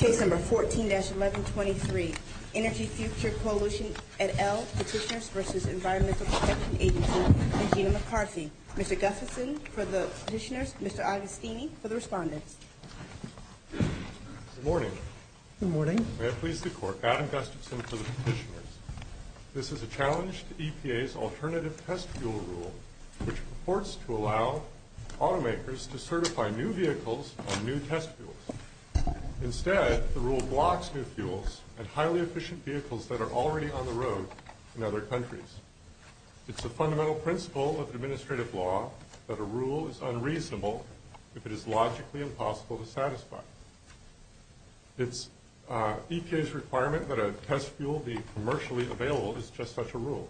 14-1123 Energy Future Coalition, et al., Petitioners v. Environmental Protection Agency, and Gina McCarthy. Mr. Gustafson for the Petitioners, Mr. Augustini for the Respondents. Good morning. May it please the Court, Adam Gustafson for the Petitioners. This is a challenge to EPA's alternative test fuel rule, which purports to allow automakers to certify new vehicles on new test fuels. Instead, the rule blocks new fuels and highly efficient vehicles that are already on the road in other countries. It's a fundamental principle of administrative law that a rule is unreasonable if it is logically impossible to satisfy. It's EPA's requirement that a test fuel be commercially available is just such a rule.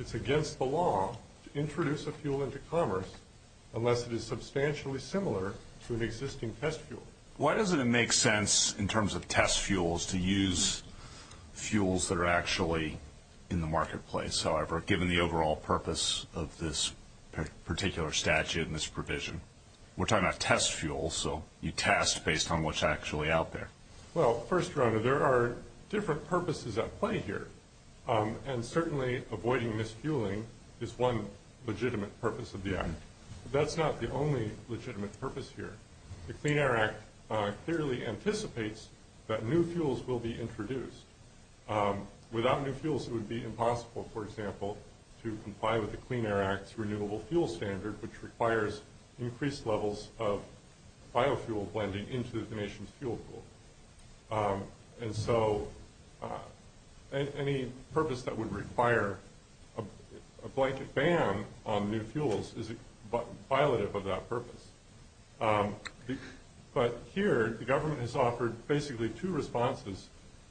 It's against the law to introduce a fuel into commerce unless it is substantially similar to an existing test fuel. Why doesn't it make sense in terms of test fuels to use fuels that are actually in the marketplace, however, given the overall purpose of this particular statute and this provision? We're talking about test fuels, so you test based on what's actually out there. Well, first, Rona, there are different purposes at play here, and certainly avoiding misfueling is one legitimate purpose of the act. But that's not the only legitimate purpose here. The Clean Air Act clearly anticipates that new fuels will be introduced. Without new fuels, it would be impossible, for example, to comply with the Clean Air Act's Renewable Fuel Standard, which requires increased levels of biofuel blending into the nation's fuel pool. And so any purpose that would require a blanket ban on new fuels is violative of that purpose. But here, the government has offered basically two responses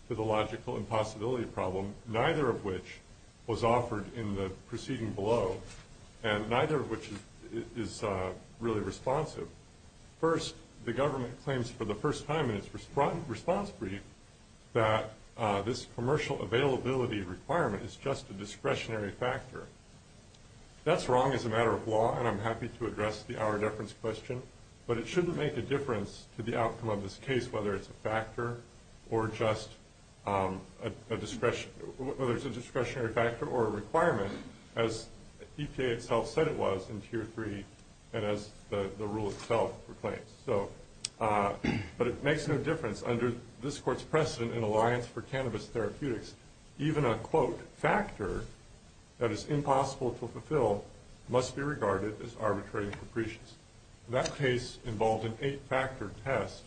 to the logical impossibility problem, neither of which was offered in the proceeding below, and neither of which is really responsive. First, the government claims for the first time in its response brief that this commercial availability requirement is just a discretionary factor. That's wrong as a matter of law, and I'm happy to address the hour deference question, but it shouldn't make a difference to the outcome of this case, whether it's a discretionary factor or a requirement, as EPA itself said it was in Tier 3 and as the rule itself proclaims. But it makes no difference. Under this court's precedent in Alliance for Cannabis Therapeutics, even a, quote, factor that is impossible to fulfill must be regarded as arbitrary and capricious. That case involved an eight-factor test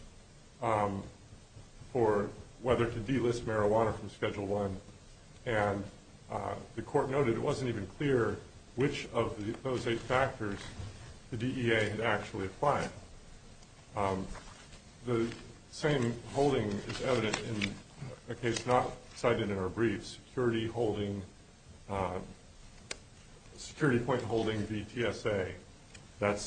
for whether to delist marijuana from Schedule I, and the court noted it wasn't even clear which of those eight factors the DEA had actually applied. The same holding is evident in a case not cited in our brief, security point holding v. TSA. That's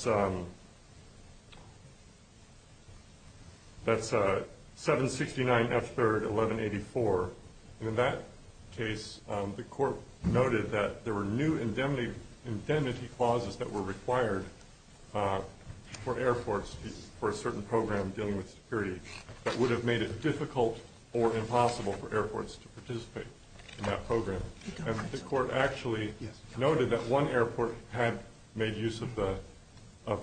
769F3-1184. In that case, the court noted that there were new indemnity clauses that were required for airports for a certain program dealing with security that would have made it difficult or impossible for airports to participate in that program. And the court actually noted that one airport had made use of the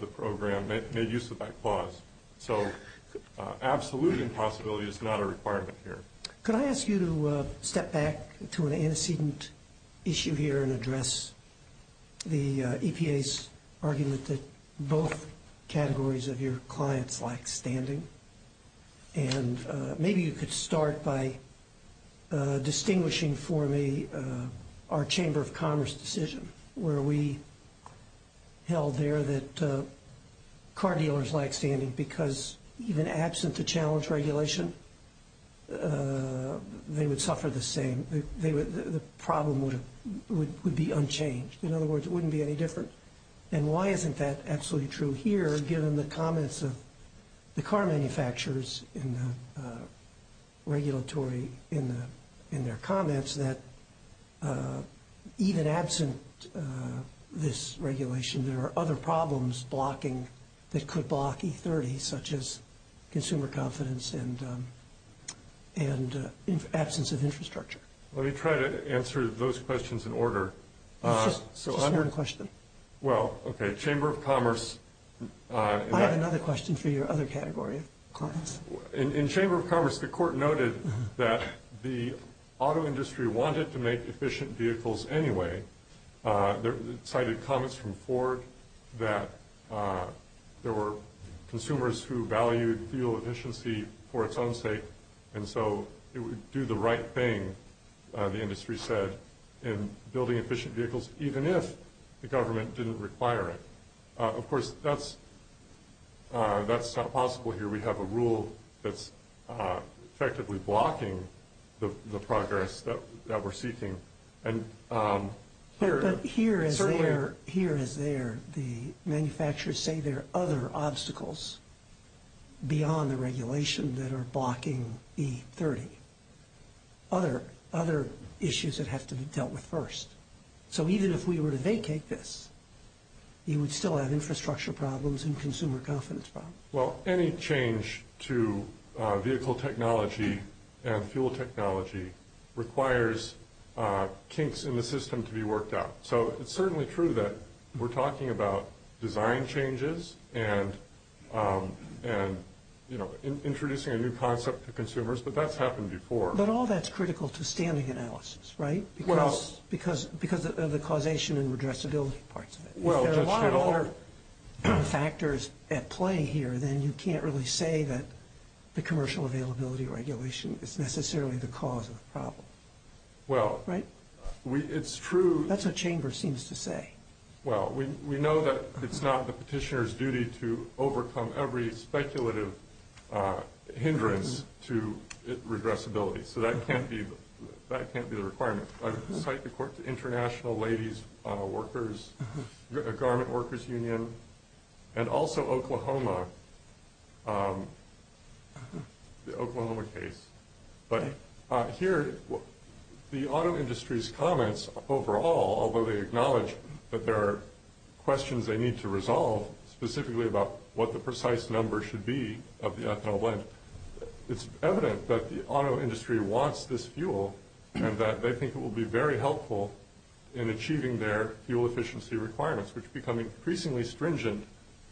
program, made use of that clause. So absolute impossibility is not a requirement here. Could I ask you to step back to an antecedent issue here and address the EPA's argument that both categories of your clients lack standing? And maybe you could start by distinguishing for me our Chamber of Commerce decision, where we held there that car dealers lack standing because even absent the challenge regulation, they would suffer the same. The problem would be unchanged. In other words, it wouldn't be any different. And why isn't that absolutely true here, given the comments of the car manufacturers in the regulatory, in their comments that even absent this regulation, there are other problems blocking that could block E30, such as consumer confidence and absence of infrastructure? Let me try to answer those questions in order. Just one question. Well, okay, Chamber of Commerce. I have another question for your other category of clients. In Chamber of Commerce, the court noted that the auto industry wanted to make efficient vehicles anyway. It cited comments from Ford that there were consumers who valued fuel efficiency for its own sake, and so it would do the right thing, the industry said, in building efficient vehicles, even if the government didn't require it. Of course, that's not possible here. We have a rule that's effectively blocking the progress that we're seeking. But here as there, the manufacturers say there are other obstacles beyond the regulation that are blocking E30, other issues that have to be dealt with first. So even if we were to vacate this, you would still have infrastructure problems and consumer confidence problems. Well, any change to vehicle technology and fuel technology requires kinks in the system to be worked out. So it's certainly true that we're talking about design changes and introducing a new concept to consumers, but that's happened before. But all that's critical to standing analysis, right, because of the causation and redressability parts of it. If there are a lot of other factors at play here, then you can't really say that the commercial availability regulation is necessarily the cause of the problem. Well, it's true. That's what Chamber seems to say. Well, we know that it's not the petitioner's duty to overcome every speculative hindrance to redressability, so that can't be the requirement. I cite the International Ladies' Garment Workers Union and also Oklahoma, the Oklahoma case. But here, the auto industry's comments overall, although they acknowledge that there are questions they need to resolve, specifically about what the precise number should be of the ethanol blend, it's evident that the auto industry wants this fuel and that they think it will be very helpful in achieving their fuel efficiency requirements, which become increasingly stringent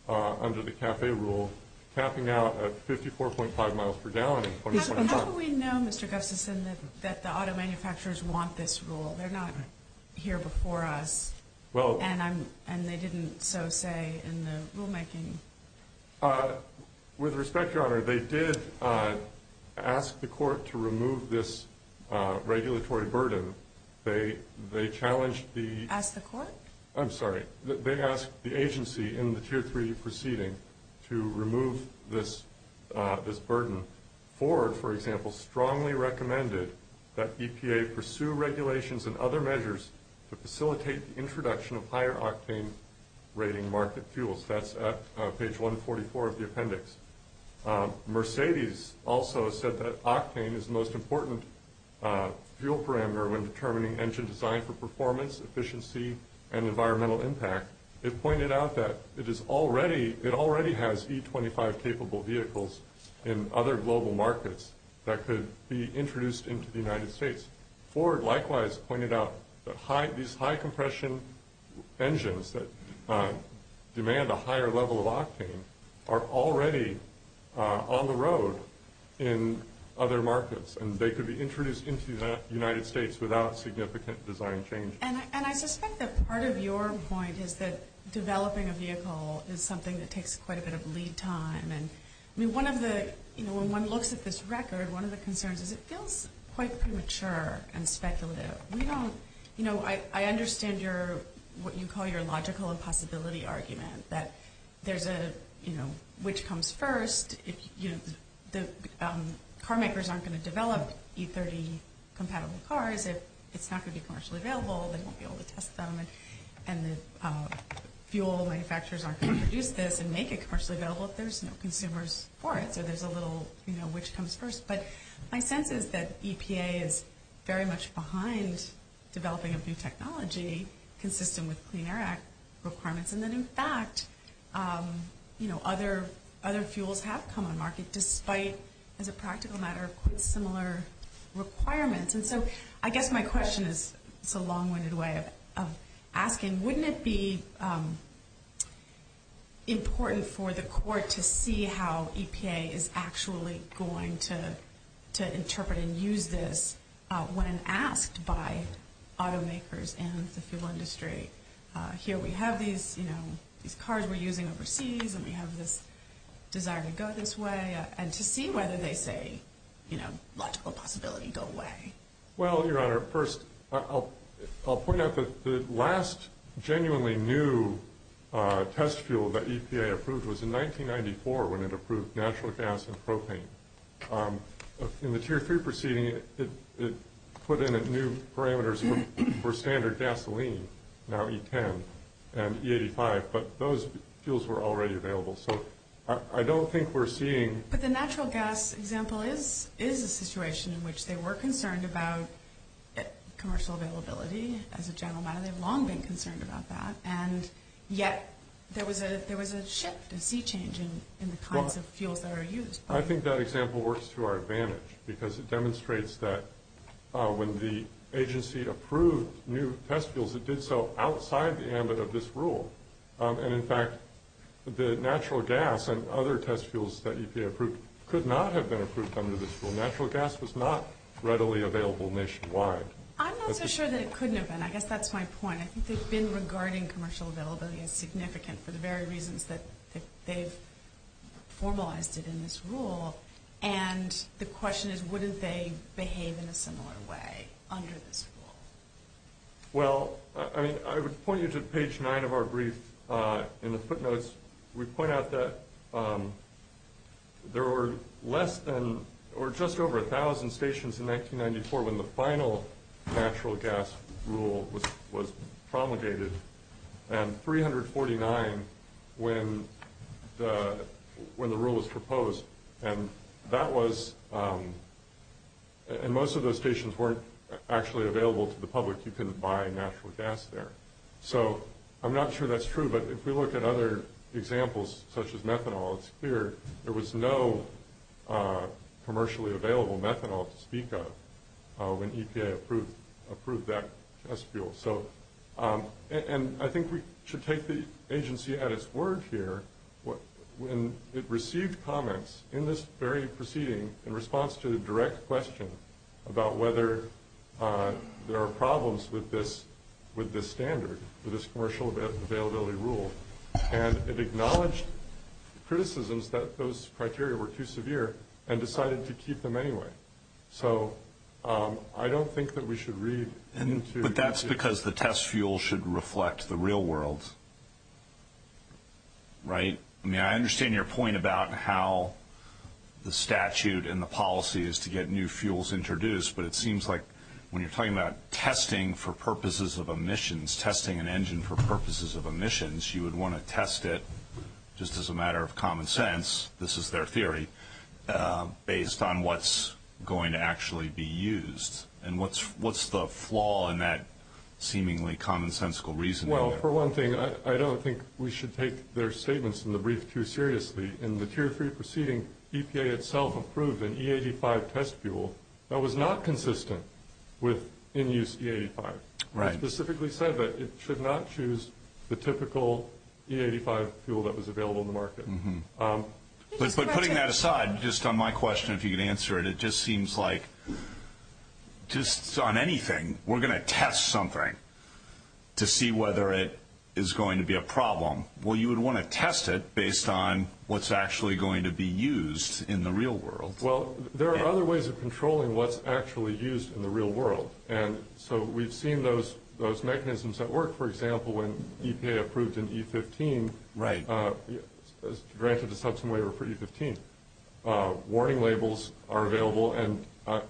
under the CAFE rule, capping out at 54.5 miles per gallon in 2025. How do we know, Mr. Gustafson, that the auto manufacturers want this rule? They're not here before us, and they didn't so say in the rulemaking. With respect, Your Honor, they did ask the court to remove this regulatory burden. They challenged the- Asked the court? I'm sorry. They asked the agency in the Tier 3 proceeding to remove this burden. Ford, for example, strongly recommended that EPA pursue regulations and other measures to facilitate the introduction of higher octane rating market fuels. That's at page 144 of the appendix. Mercedes also said that octane is the most important fuel parameter when determining engine design for performance, efficiency, and environmental impact. It pointed out that it already has E25-capable vehicles in other global markets that could be introduced into the United States. Ford, likewise, pointed out that these high-compression engines that demand a higher level of octane are already on the road in other markets, and they could be introduced into the United States without significant design change. And I suspect that part of your point is that developing a vehicle is something that takes quite a bit of lead time. I mean, one of the-you know, when one looks at this record, one of the concerns is it feels quite premature and speculative. We don't-you know, I understand your-what you call your logical impossibility argument that there's a, you know, which comes first. Car makers aren't going to develop E30-compatible cars if it's not going to be commercially available. They won't be able to test them, and the fuel manufacturers aren't going to produce this and make it commercially available if there's no consumers for it. So there's a little, you know, which comes first. But my sense is that EPA is very much behind developing a new technology consistent with Clean Air Act requirements, and that, in fact, you know, other fuels have come on market despite, as a practical matter, quite similar requirements. And so I guess my question is-it's a long-winded way of asking, wouldn't it be important for the court to see how EPA is actually going to interpret and use this when asked by automakers and the fuel industry? Here we have these, you know, these cars we're using overseas, and we have this desire to go this way, and to see whether they say, you know, logical possibility go away. Well, Your Honor, first, I'll point out that the last genuinely new test fuel that EPA approved was in 1994 when it approved natural gas and propane. In the Tier 3 proceeding, it put in new parameters for standard gasoline, now E10 and E85, but those fuels were already available. So I don't think we're seeing- But the natural gas example is a situation in which they were concerned about commercial availability, as a general matter. They've long been concerned about that, and yet there was a shift, a sea change in the kinds of fuels that are used. Well, I think that example works to our advantage because it demonstrates that when the agency approved new test fuels, it did so outside the ambit of this rule. And, in fact, the natural gas and other test fuels that EPA approved could not have been approved under this rule. Natural gas was not readily available nationwide. I'm not so sure that it couldn't have been. I guess that's my point. I think they've been regarding commercial availability as significant for the very reasons that they've formalized it in this rule. And the question is, wouldn't they behave in a similar way under this rule? Well, I mean, I would point you to page nine of our brief. In the footnotes, we point out that there were less than or just over a thousand stations in 1994 when the final natural gas rule was promulgated, and 349 when the rule was proposed. And most of those stations weren't actually available to the public. You couldn't buy natural gas there. So I'm not sure that's true, but if we look at other examples, such as methanol, it's clear there was no commercially available methanol to speak of when EPA approved that test fuel. And I think we should take the agency at its word here. When it received comments in this very proceeding in response to the direct question about whether there are problems with this standard, with this commercial availability rule, and it acknowledged criticisms that those criteria were too severe and decided to keep them anyway. So I don't think that we should read into- But that's because the test fuel should reflect the real world, right? I mean, I understand your point about how the statute and the policy is to get new fuels introduced, but it seems like when you're talking about testing for purposes of emissions, testing an engine for purposes of emissions, you would want to test it just as a matter of common sense, this is their theory, based on what's going to actually be used. And what's the flaw in that seemingly commonsensical reasoning? Well, for one thing, I don't think we should take their statements in the brief too seriously. In the Tier 3 proceeding, EPA itself approved an E85 test fuel that was not consistent with in-use E85. It specifically said that it should not choose the typical E85 fuel that was available in the market. But putting that aside, just on my question, if you could answer it, it just seems like just on anything, we're going to test something to see whether it is going to be a problem. Well, you would want to test it based on what's actually going to be used in the real world. Well, there are other ways of controlling what's actually used in the real world. And so we've seen those mechanisms at work. For example, when EPA approved an E15, granted a substantive waiver for E15, warning labels are available. And I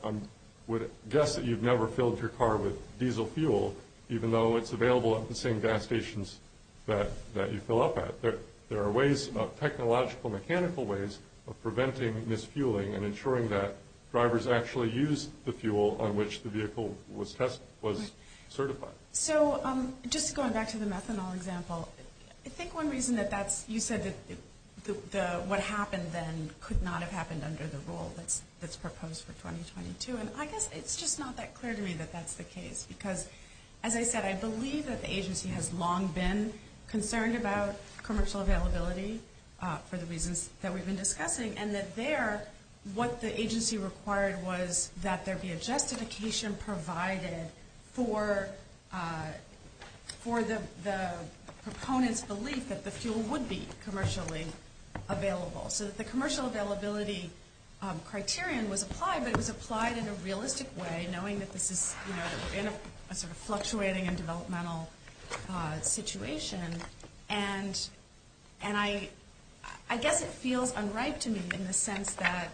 would guess that you've never filled your car with diesel fuel, even though it's available at the same gas stations that you fill up at. There are ways, technological, mechanical ways of preventing misfueling and ensuring that drivers actually use the fuel on which the vehicle was certified. So just going back to the methanol example, I think one reason that that's, you said that what happened then could not have happened under the rule that's proposed for 2022. And I guess it's just not that clear to me that that's the case. Because as I said, I believe that the agency has long been concerned about commercial availability for the reasons that we've been discussing. And that there, what the agency required was that there be a justification provided for the proponent's belief that the fuel would be commercially available. So that the commercial availability criterion was applied, but it was applied in a realistic way, knowing that this is, you know, in a sort of fluctuating and developmental situation. And I guess it feels unripe to me in the sense that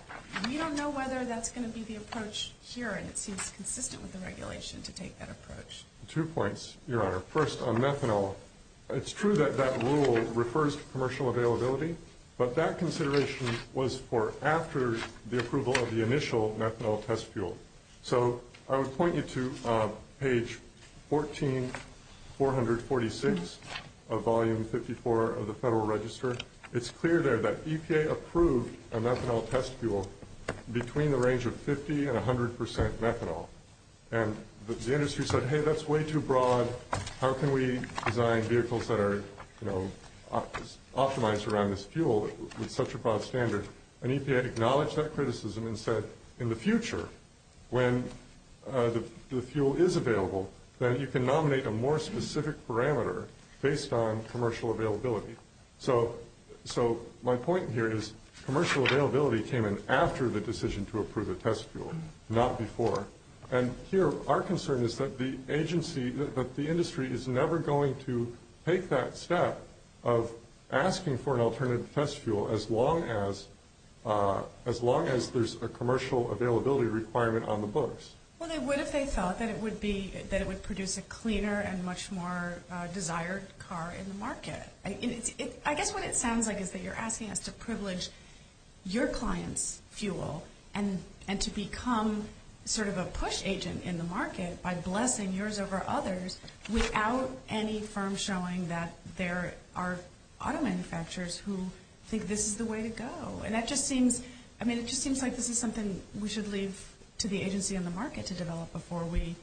we don't know whether that's going to be the approach here. And it seems consistent with the regulation to take that approach. Two points, Your Honor. First, on methanol, it's true that that rule refers to commercial availability. But that consideration was for after the approval of the initial methanol test fuel. So I would point you to page 14446 of Volume 54 of the Federal Register. It's clear there that EPA approved a methanol test fuel between the range of 50 and 100 percent methanol. And the industry said, hey, that's way too broad. How can we design vehicles that are, you know, optimized around this fuel with such a broad standard? And EPA acknowledged that criticism and said, in the future, when the fuel is available, then you can nominate a more specific parameter based on commercial availability. So my point here is commercial availability came in after the decision to approve the test fuel, not before. And here our concern is that the agency, that the industry, is never going to take that step of asking for an alternative test fuel as long as there's a commercial availability requirement on the books. Well, they would if they thought that it would produce a cleaner and much more desired car in the market. I guess what it sounds like is that you're asking us to privilege your clients' fuel and to become sort of a push agent in the market by blessing yours over others without any firm showing that there are auto manufacturers who think this is the way to go. And that just seems, I mean, it just seems like this is something we should leave to the agency and the market to develop before we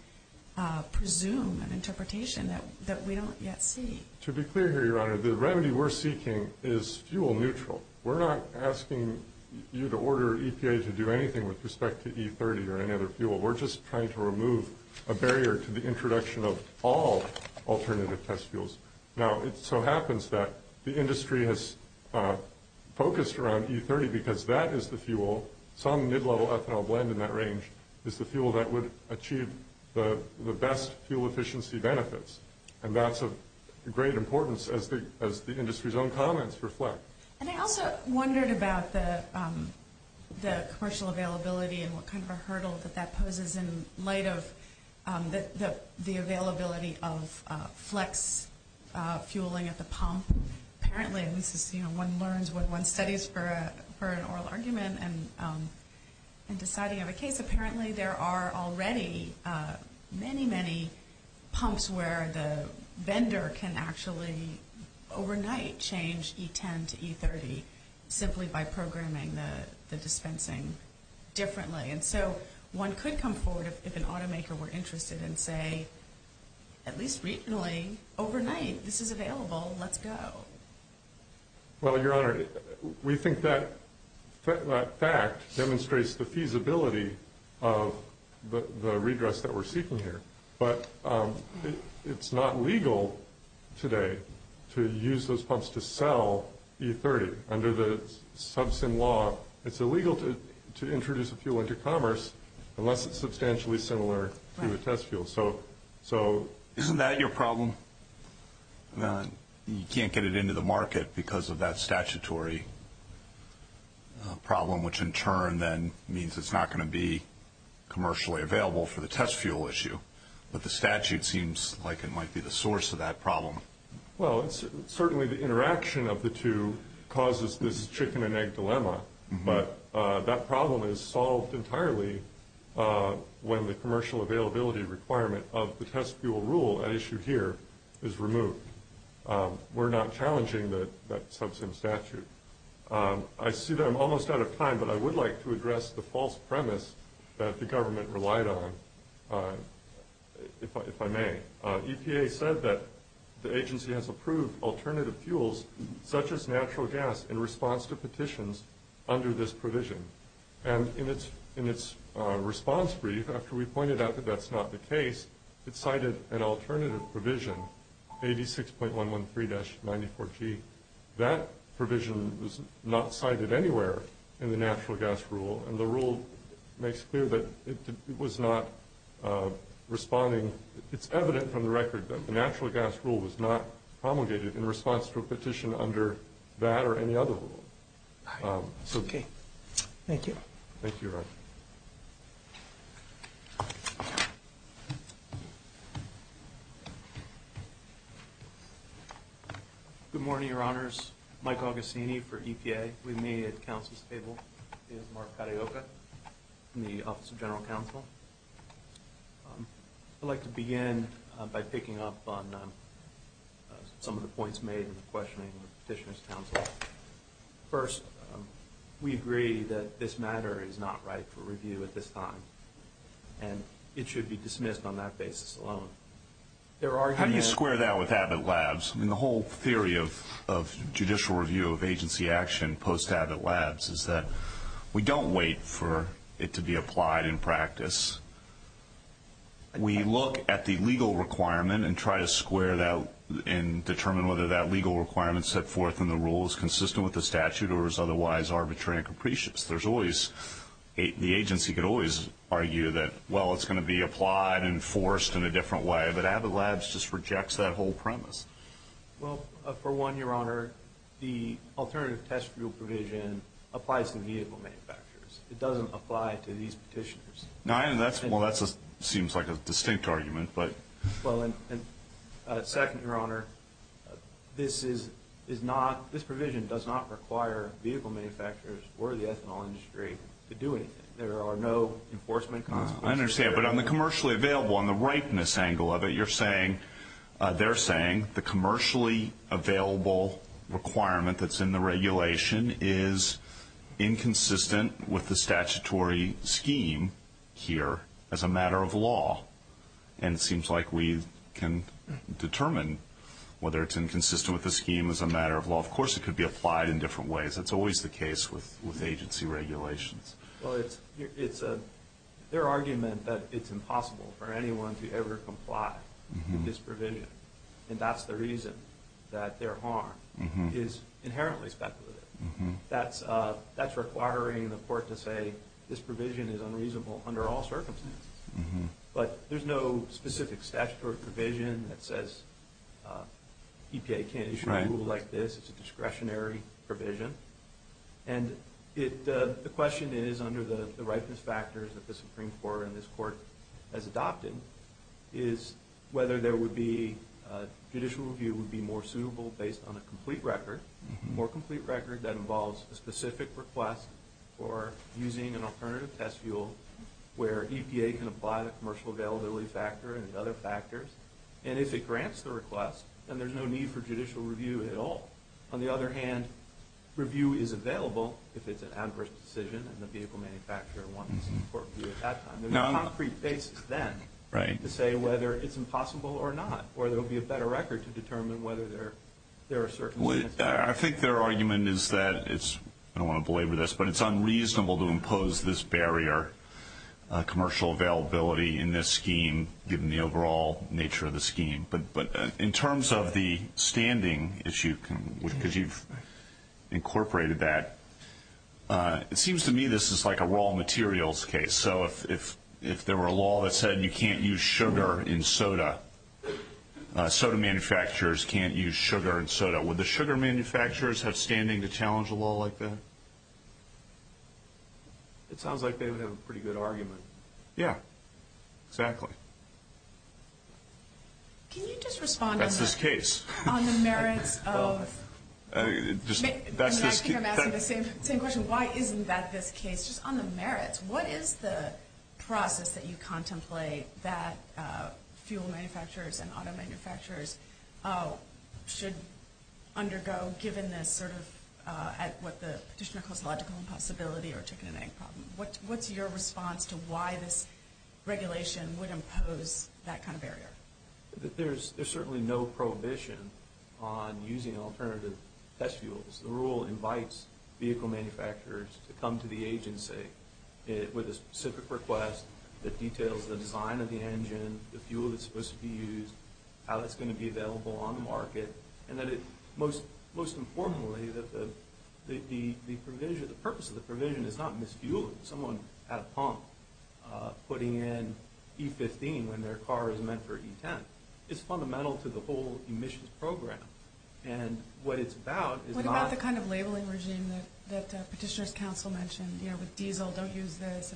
presume an interpretation that we don't yet see. To be clear here, Your Honor, the remedy we're seeking is fuel neutral. We're not asking you to order EPA to do anything with respect to E30 or any other fuel. We're just trying to remove a barrier to the introduction of all alternative test fuels. Now, it so happens that the industry has focused around E30 because that is the fuel, some mid-level ethanol blend in that range is the fuel that would achieve the best fuel efficiency benefits. And that's of great importance as the industry's own comments reflect. And I also wondered about the commercial availability and what kind of a hurdle that that poses in light of the availability of flex fueling at the pump. Apparently, this is, you know, one learns when one studies for an oral argument and deciding of a case. Apparently, there are already many, many pumps where the vendor can actually overnight change E10 to E30 simply by programming the dispensing differently. And so one could come forward if an automaker were interested and say, at least recently, overnight, this is available, let's go. Well, Your Honor, we think that fact demonstrates the feasibility of the redress that we're seeking here. But it's not legal today to use those pumps to sell E30. Under the sub-sim law, it's illegal to introduce a fuel into commerce unless it's substantially similar to a test fuel. Isn't that your problem? You can't get it into the market because of that statutory problem, which in turn then means it's not going to be commercially available for the test fuel issue. But the statute seems like it might be the source of that problem. Well, certainly the interaction of the two causes this chicken and egg dilemma. But that problem is solved entirely when the commercial availability requirement of the test fuel rule at issue here is removed. We're not challenging that sub-sim statute. I see that I'm almost out of time, but I would like to address the false premise that the government relied on, if I may. EPA said that the agency has approved alternative fuels, such as natural gas, in response to petitions under this provision. And in its response brief, after we pointed out that that's not the case, it cited an alternative provision, 86.113-94G. That provision was not cited anywhere in the natural gas rule, and the rule makes clear that it was not responding. It's evident from the record that the natural gas rule was not promulgated in response to a petition under that or any other rule. Okay. Thank you. Thank you, Your Honor. Good morning, Your Honors. My name is Mike Augustini for EPA. With me at the counsel's table is Mark Carioca from the Office of General Counsel. I'd like to begin by picking up on some of the points made in the questioning of the Petitioner's Counsel. First, we agree that this matter is not right for review at this time, and it should be dismissed on that basis alone. How do you square that with Abbott Labs? I mean, the whole theory of judicial review of agency action post-Abbott Labs is that we don't wait for it to be applied in practice. We look at the legal requirement and try to square that and determine whether that legal requirement set forth in the rule is consistent with the statute or is otherwise arbitrary and capricious. The agency could always argue that, well, it's going to be applied and enforced in a different way, but Abbott Labs just rejects that whole premise. Well, for one, Your Honor, the alternative test rule provision applies to vehicle manufacturers. It doesn't apply to these petitioners. Well, that seems like a distinct argument. Well, and second, Your Honor, this provision does not require vehicle manufacturers or the ethanol industry to do anything. There are no enforcement consequences. I understand, but on the commercially available, on the ripeness angle of it, you're saying they're saying the commercially available requirement that's in the regulation is inconsistent with the statutory scheme here as a matter of law, and it seems like we can determine whether it's inconsistent with the scheme as a matter of law. Of course, it could be applied in different ways. That's always the case with agency regulations. Well, it's their argument that it's impossible for anyone to ever comply with this provision, and that's the reason that their harm is inherently speculative. That's requiring the court to say this provision is unreasonable under all circumstances, but there's no specific statutory provision that says EPA can't issue a rule like this. It's a discretionary provision, and the question is, under the ripeness factors that the Supreme Court and this Court has adopted, is whether judicial review would be more suitable based on a complete record. A more complete record that involves a specific request for using an alternative test fuel where EPA can apply the commercial availability factor and the other factors, and if it grants the request, then there's no need for judicial review at all. On the other hand, review is available if it's an adverse decision, and the vehicle manufacturer wants court review at that time. There's a concrete basis then to say whether it's impossible or not, or there will be a better record to determine whether there are circumstances. I think their argument is that it's unreasonable to impose this barrier, commercial availability in this scheme, given the overall nature of the scheme. But in terms of the standing issue, because you've incorporated that, it seems to me this is like a raw materials case. And so if there were a law that said you can't use sugar in soda, soda manufacturers can't use sugar in soda, would the sugar manufacturers have standing to challenge a law like that? It sounds like they would have a pretty good argument. Yeah, exactly. Can you just respond on the merits of – I think I'm asking the same question. Why isn't that this case? It's just on the merits. What is the process that you contemplate that fuel manufacturers and auto manufacturers should undergo, given this sort of what the Petitioner calls logical impossibility or chicken and egg problem? What's your response to why this regulation would impose that kind of barrier? There's certainly no prohibition on using alternative test fuels. The rule invites vehicle manufacturers to come to the agency with a specific request that details the design of the engine, the fuel that's supposed to be used, how that's going to be available on the market, and that it most informally that the purpose of the provision is not misfueling someone at a pump, putting in E15 when their car is meant for E10. It's fundamental to the whole emissions program. What about the kind of labeling regime that Petitioner's counsel mentioned? With diesel, don't use this.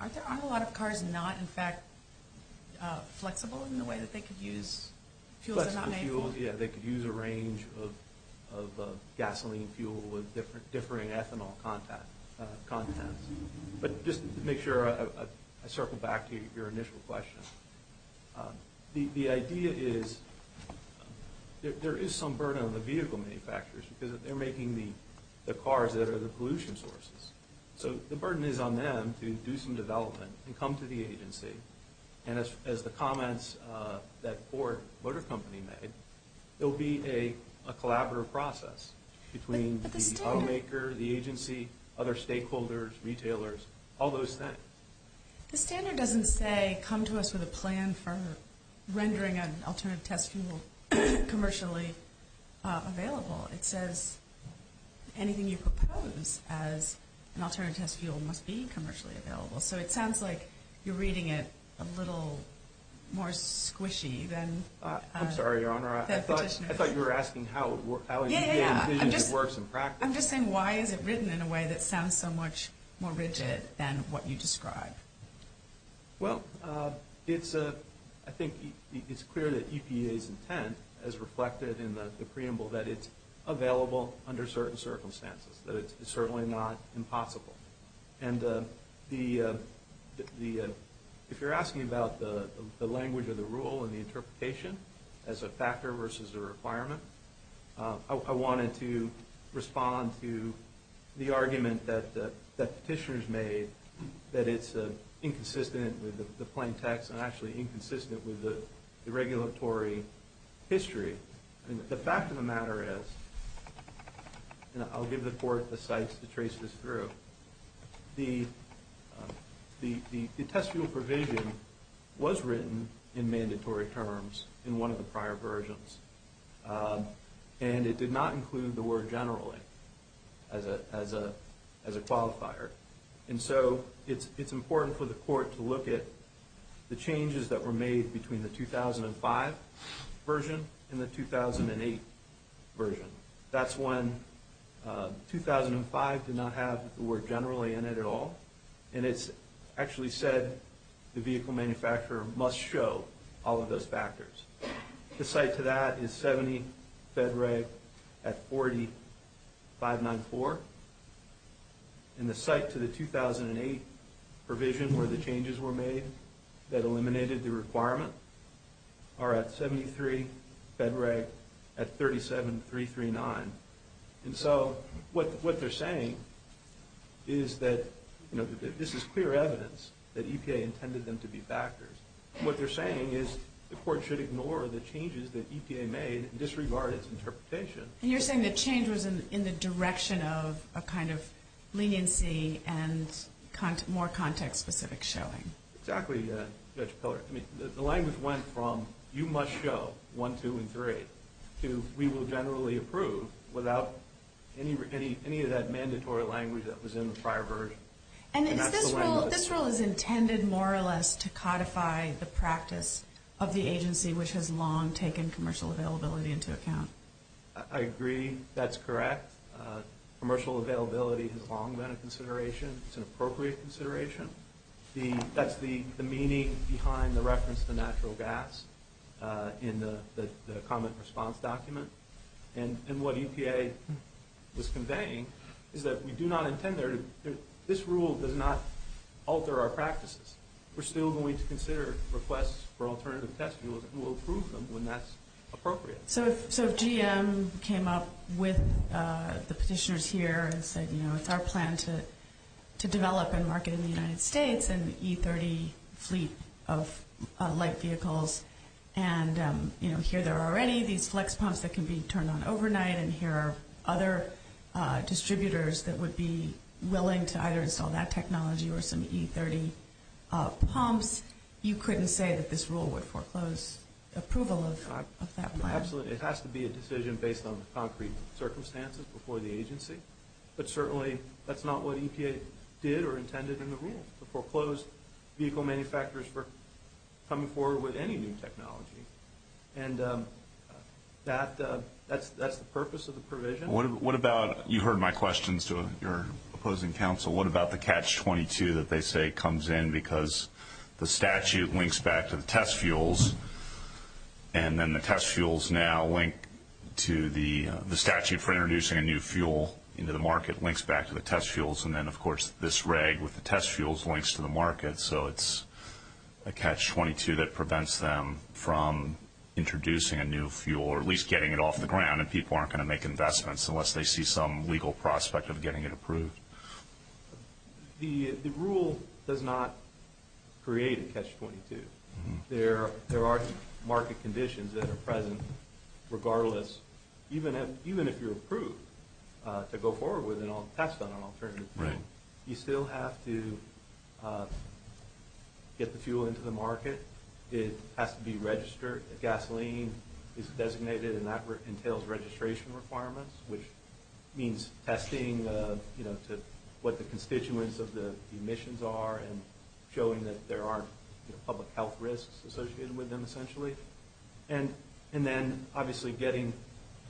Aren't there a lot of cars not, in fact, flexible in the way that they could use fuels that are not made for them? Flexible fuels, yeah. They could use a range of gasoline fuel with differing ethanol contents. But just to make sure, I circle back to your initial question. The idea is there is some burden on the vehicle manufacturers because they're making the cars that are the pollution sources. So the burden is on them to do some development and come to the agency. And as the comments that Ford Motor Company made, there will be a collaborative process between the automaker, the agency, other stakeholders, retailers, all those things. The standard doesn't say come to us with a plan for rendering an alternative test fuel commercially available. It says anything you propose as an alternative test fuel must be commercially available. So it sounds like you're reading it a little more squishy than Petitioner. I'm sorry, Your Honor. I thought you were asking how it works in practice. I'm just saying why is it written in a way that sounds so much more rigid than what you describe? Well, I think it's clear that EPA's intent, as reflected in the preamble, that it's available under certain circumstances, that it's certainly not impossible. And if you're asking about the language of the rule and the interpretation as a factor versus a requirement, I wanted to respond to the argument that Petitioner's made that it's inconsistent with the plain text and actually inconsistent with the regulatory history. The fact of the matter is, and I'll give the Court the sites to trace this through, the test fuel provision was written in mandatory terms in one of the prior versions. And it did not include the word generally as a qualifier. And so it's important for the Court to look at the changes that were made between the 2005 version and the 2008 version. That's when 2005 did not have the word generally in it at all. And it actually said the vehicle manufacturer must show all of those factors. The site to that is 70 FEDREG at 4594. And the site to the 2008 provision where the changes were made that eliminated the requirement are at 73 FEDREG at 37339. And so what they're saying is that this is clear evidence that EPA intended them to be factors. What they're saying is the Court should ignore the changes that EPA made and disregard its interpretation. And you're saying the change was in the direction of a kind of leniency and more context-specific showing. Exactly, Judge Pillard. The language went from you must show 1, 2, and 3 to we will generally approve without any of that mandatory language that was in the prior version. And this rule is intended more or less to codify the practice of the agency which has long taken commercial availability into account. I agree. That's correct. Commercial availability has long been a consideration. It's an appropriate consideration. That's the meaning behind the reference to natural gas in the comment response document. And what EPA was conveying is that we do not intend there to – this rule does not alter our practices. We're still going to consider requests for alternative test fuels and we'll approve them when that's appropriate. So if GM came up with the petitioners here and said, you know, it's our plan to develop and market in the United States an E30 fleet of light vehicles, and, you know, here there are already these flex pumps that can be turned on overnight and here are other distributors that would be willing to either install that technology or some E30 pumps, you couldn't say that this rule would foreclose approval of that plan? Absolutely. It has to be a decision based on the concrete circumstances before the agency. But certainly that's not what EPA did or intended in the rule. Vehicle manufacturers were coming forward with any new technology. And that's the purpose of the provision. What about – you heard my questions to your opposing counsel. What about the catch-22 that they say comes in because the statute links back to the test fuels and then the test fuels now link to the statute for introducing a new fuel into the market, and then, of course, this reg with the test fuels links to the market. So it's a catch-22 that prevents them from introducing a new fuel or at least getting it off the ground and people aren't going to make investments unless they see some legal prospect of getting it approved. The rule does not create a catch-22. There are market conditions that are present regardless – even if you're approved to go forward with a test on an alternative fuel, you still have to get the fuel into the market. It has to be registered. The gasoline is designated, and that entails registration requirements, which means testing to what the constituents of the emissions are and showing that there are public health risks associated with them, essentially, and then obviously getting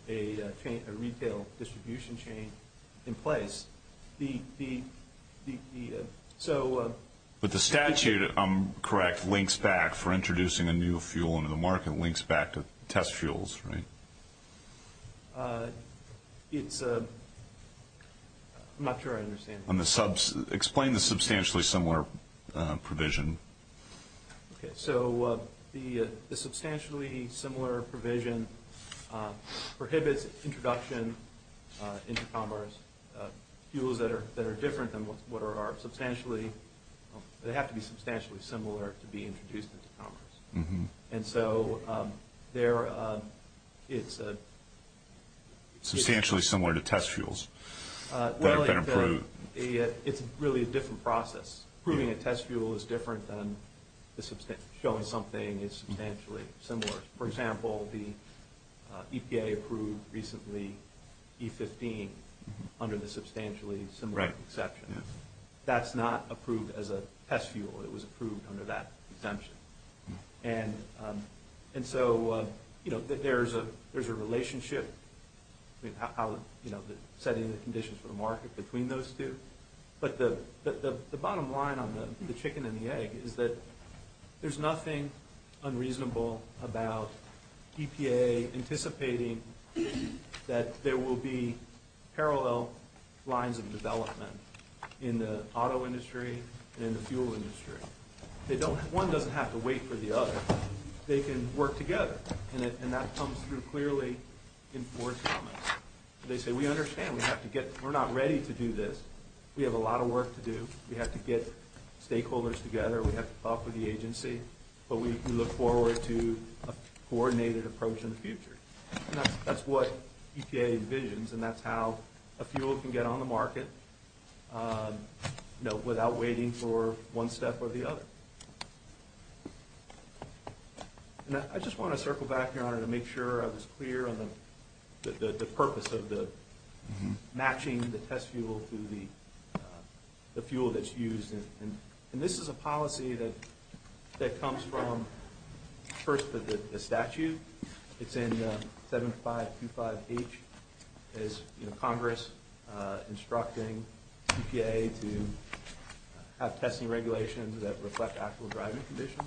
a retail distribution chain in place. But the statute, I'm correct, links back for introducing a new fuel into the market, links back to test fuels, right? It's – I'm not sure I understand. Explain the substantially similar provision. Okay, so the substantially similar provision prohibits introduction into commerce fuels that are different than what are substantially – they have to be substantially similar to be introduced into commerce. And so they're – it's a – Substantially similar to test fuels that have been approved. It's really a different process. Approving a test fuel is different than showing something is substantially similar. For example, the EPA approved recently E15 under the substantially similar exception. That's not approved as a test fuel. It was approved under that exemption. And so, you know, there's a relationship. I mean, how – you know, setting the conditions for the market between those two. But the bottom line on the chicken and the egg is that there's nothing unreasonable about EPA anticipating that there will be parallel lines of development in the auto industry and in the fuel industry. They don't – one doesn't have to wait for the other. They can work together. And that comes through clearly in Ford's comments. They say, we understand. We have to get – we're not ready to do this. We have a lot of work to do. We have to get stakeholders together. We have to talk with the agency. But we look forward to a coordinated approach in the future. And that's what EPA envisions, and that's how a fuel can get on the market, you know, I just want to circle back, Your Honor, to make sure I was clear on the purpose of the matching the test fuel to the fuel that's used. And this is a policy that comes from, first, the statute. It's in 7525H. It is, you know, Congress instructing EPA to have testing regulations that reflect actual driving conditions.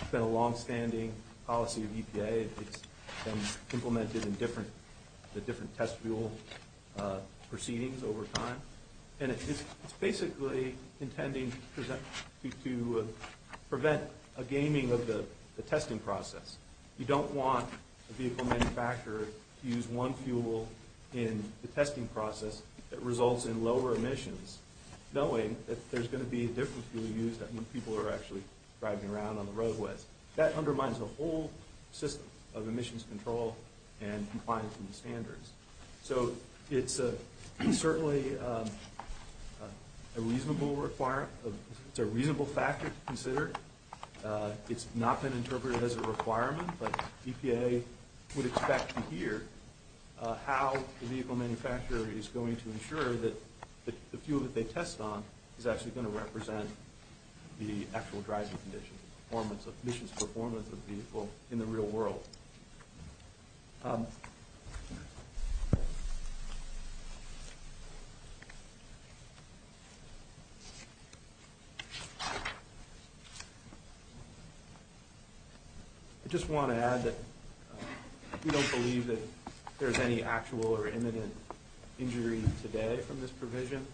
It's been a longstanding policy of EPA. It's been implemented in different – the different test fuel proceedings over time. And it's basically intending to prevent a gaming of the testing process. You don't want a vehicle manufacturer to use one fuel in the testing process that results in lower emissions, knowing that there's going to be a different fuel used when people are actually driving around on the roadways. That undermines the whole system of emissions control and compliance with the standards. So it's certainly a reasonable factor to consider. It's not been interpreted as a requirement, but EPA would expect to hear how the vehicle manufacturer is going to ensure that the fuel that they test on is actually going to represent the actual driving conditions, emissions performance of the vehicle in the real world. I just want to add that we don't believe that there's any actual or imminent injury today from this provision.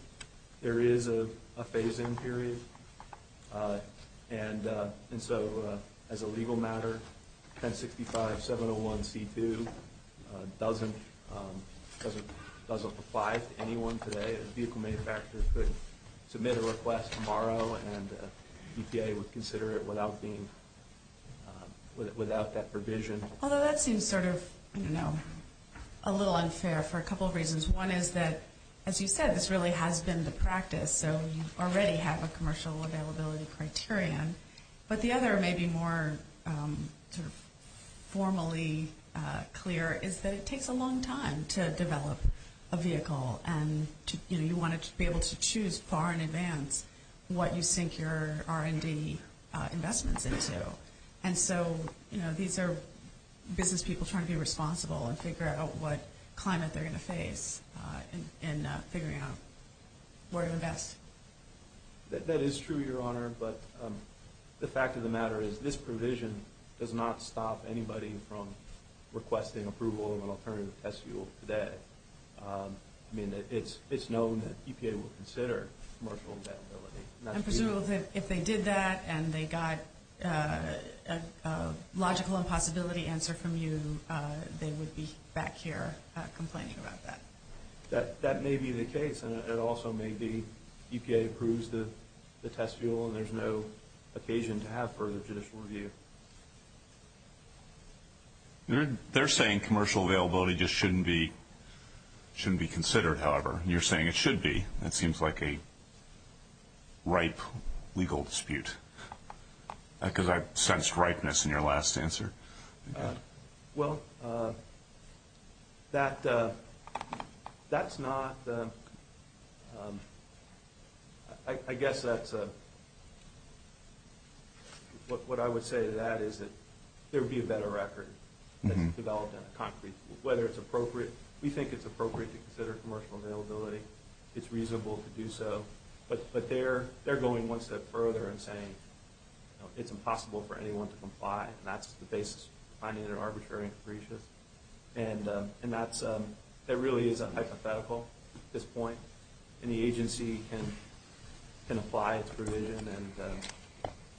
There is a phase-in period. And so as a legal matter, 1065-701-C2 doesn't apply to anyone today. A vehicle manufacturer could submit a request tomorrow, and EPA would consider it without that provision. Although that seems sort of, you know, a little unfair for a couple of reasons. One is that, as you said, this really has been the practice, so you already have a commercial availability criterion. But the other may be more formally clear is that it takes a long time to develop a vehicle, and you want to be able to choose far in advance what you sink your R&D investments into. And so, you know, these are business people trying to be responsible and figure out what climate they're going to face in figuring out where to invest. That is true, Your Honor, but the fact of the matter is this provision does not stop anybody from requesting approval of an alternative test fuel today. I mean, it's known that EPA will consider commercial availability. I'm presuming that if they did that and they got a logical impossibility answer from you, they would be back here complaining about that. That may be the case, and it also may be EPA approves the test fuel and there's no occasion to have further judicial review. They're saying commercial availability just shouldn't be considered, however. You're saying it should be. That seems like a ripe legal dispute, because I sensed ripeness in your last answer. Well, that's not the – I guess that's a – what I would say to that is that there would be a better record that's developed on a concrete level, whether it's appropriate. We think it's appropriate to consider commercial availability. It's reasonable to do so. But they're going one step further and saying it's impossible for anyone to comply, and that's the basis for finding that they're arbitrary and capricious. And that really is a hypothetical at this point, and the agency can apply its provision,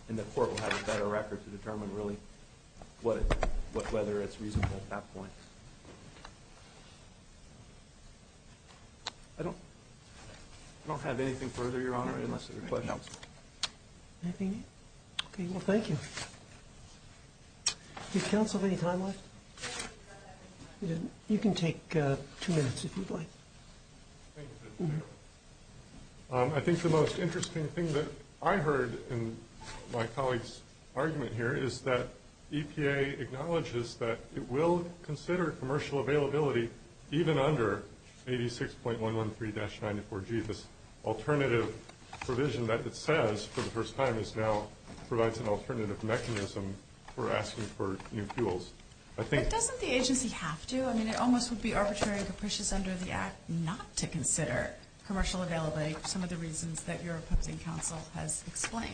and the court will have a better record to determine really whether it's reasonable at that point. I don't have anything further, Your Honor, unless there are questions. Anything? Okay, well, thank you. Did counsel have any time left? You can take two minutes if you'd like. I think the most interesting thing that I heard in my colleague's argument here is that EPA acknowledges that it will consider commercial availability even under 86.113-94G. This alternative provision that it says for the first time is now – provides an alternative mechanism for asking for new fuels. But doesn't the agency have to? I mean, it almost would be arbitrary and capricious under the Act not to consider commercial availability, some of the reasons that your opposing counsel has explained.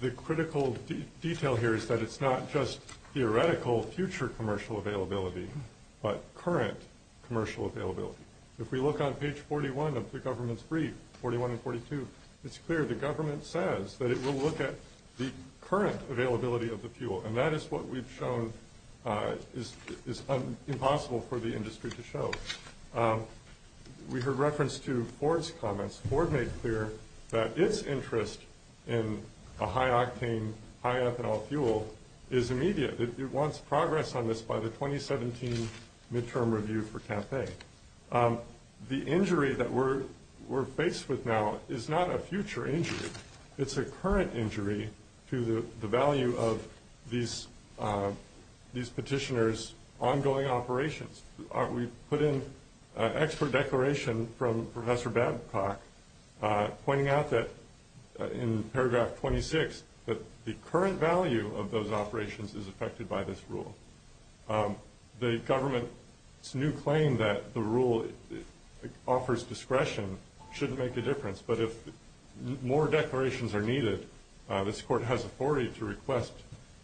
The critical detail here is that it's not just theoretical future commercial availability, but current commercial availability. If we look on page 41 of the government's brief, 41 and 42, it's clear the government says that it will look at the current availability of the fuel, and that is what we've shown is impossible for the industry to show. We heard reference to Ford's comments. Ford made clear that its interest in a high-octane, high-ethanol fuel is immediate. It wants progress on this by the 2017 midterm review for CAFE. The injury that we're faced with now is not a future injury. It's a current injury to the value of these petitioners' ongoing operations. We've put in an expert declaration from Professor Babcock pointing out that, in paragraph 26, that the current value of those operations is affected by this rule. The government's new claim that the rule offers discretion shouldn't make a difference, but if more declarations are needed, this court has authority to request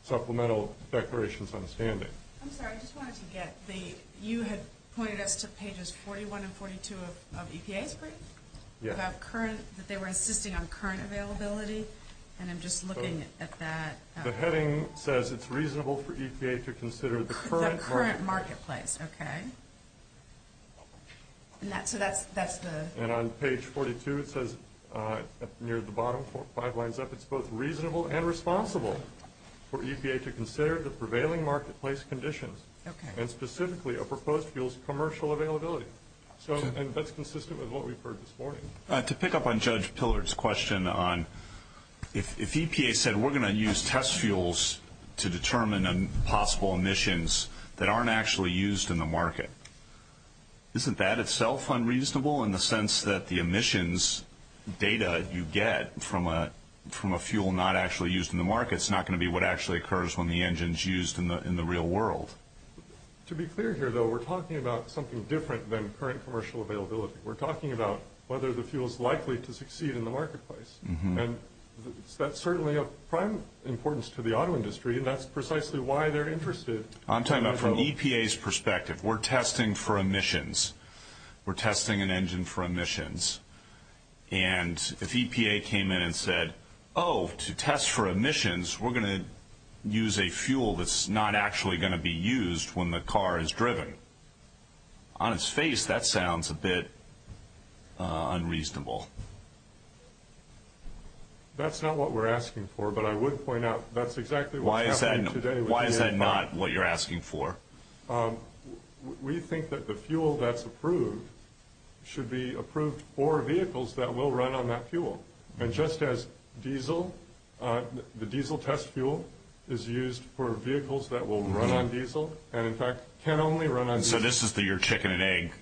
supplemental declarations on standing. I'm sorry, I just wanted to get the – you had pointed us to pages 41 and 42 of EPA's brief? Yeah. About current – that they were insisting on current availability, and I'm just looking at that. The heading says it's reasonable for EPA to consider the current marketplace. The current marketplace, okay. So that's the – and on page 42 it says, near the bottom, five lines up, it's both reasonable and responsible for EPA to consider the prevailing marketplace conditions, and specifically a proposed fuel's commercial availability. And that's consistent with what we've heard this morning. To pick up on Judge Pillard's question on if EPA said we're going to use test fuels to determine possible emissions that aren't actually used in the market, isn't that itself unreasonable in the sense that the emissions data you get from a fuel not actually used in the market is not going to be what actually occurs when the engine's used in the real world? To be clear here, though, we're talking about something different than current commercial availability. We're talking about whether the fuel's likely to succeed in the marketplace. And that's certainly of prime importance to the auto industry, and that's precisely why they're interested. I'm talking about from EPA's perspective. We're testing for emissions. We're testing an engine for emissions. And if EPA came in and said, oh, to test for emissions, we're going to use a fuel that's not actually going to be used when the car is driven, on its face that sounds a bit unreasonable. That's not what we're asking for, but I would point out that's exactly what's happening today. Why is that not what you're asking for? We think that the fuel that's approved should be approved for vehicles that will run on that fuel. And just as diesel, the diesel test fuel is used for vehicles that will run on diesel and, in fact, can only run on diesel. So this is your chicken and egg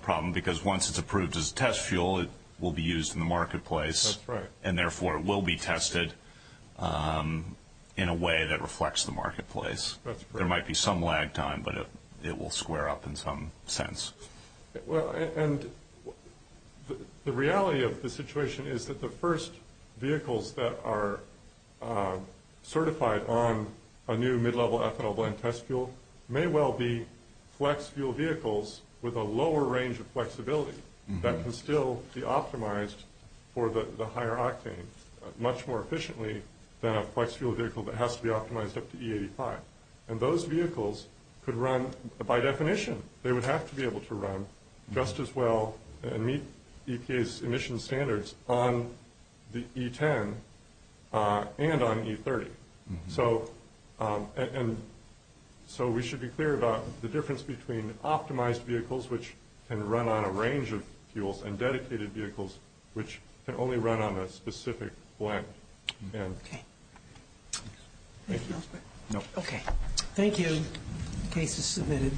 problem because once it's approved as a test fuel, it will be used in the marketplace. That's right. And, therefore, it will be tested in a way that reflects the marketplace. That's correct. There might be some lag time, but it will square up in some sense. Well, and the reality of the situation is that the first vehicles that are certified on a new mid-level ethanol blend test fuel may well be flex fuel vehicles with a lower range of flexibility that can still be optimized for the higher octane much more efficiently than a flex fuel vehicle that has to be optimized up to E85. And those vehicles could run by definition. They would have to be able to run just as well and meet EPA's emission standards on the E10 and on E30. So we should be clear about the difference between optimized vehicles, which can run on a range of fuels, and dedicated vehicles, which can only run on a specific blend. Okay. Thank you. No. Okay. Thank you. Case is submitted.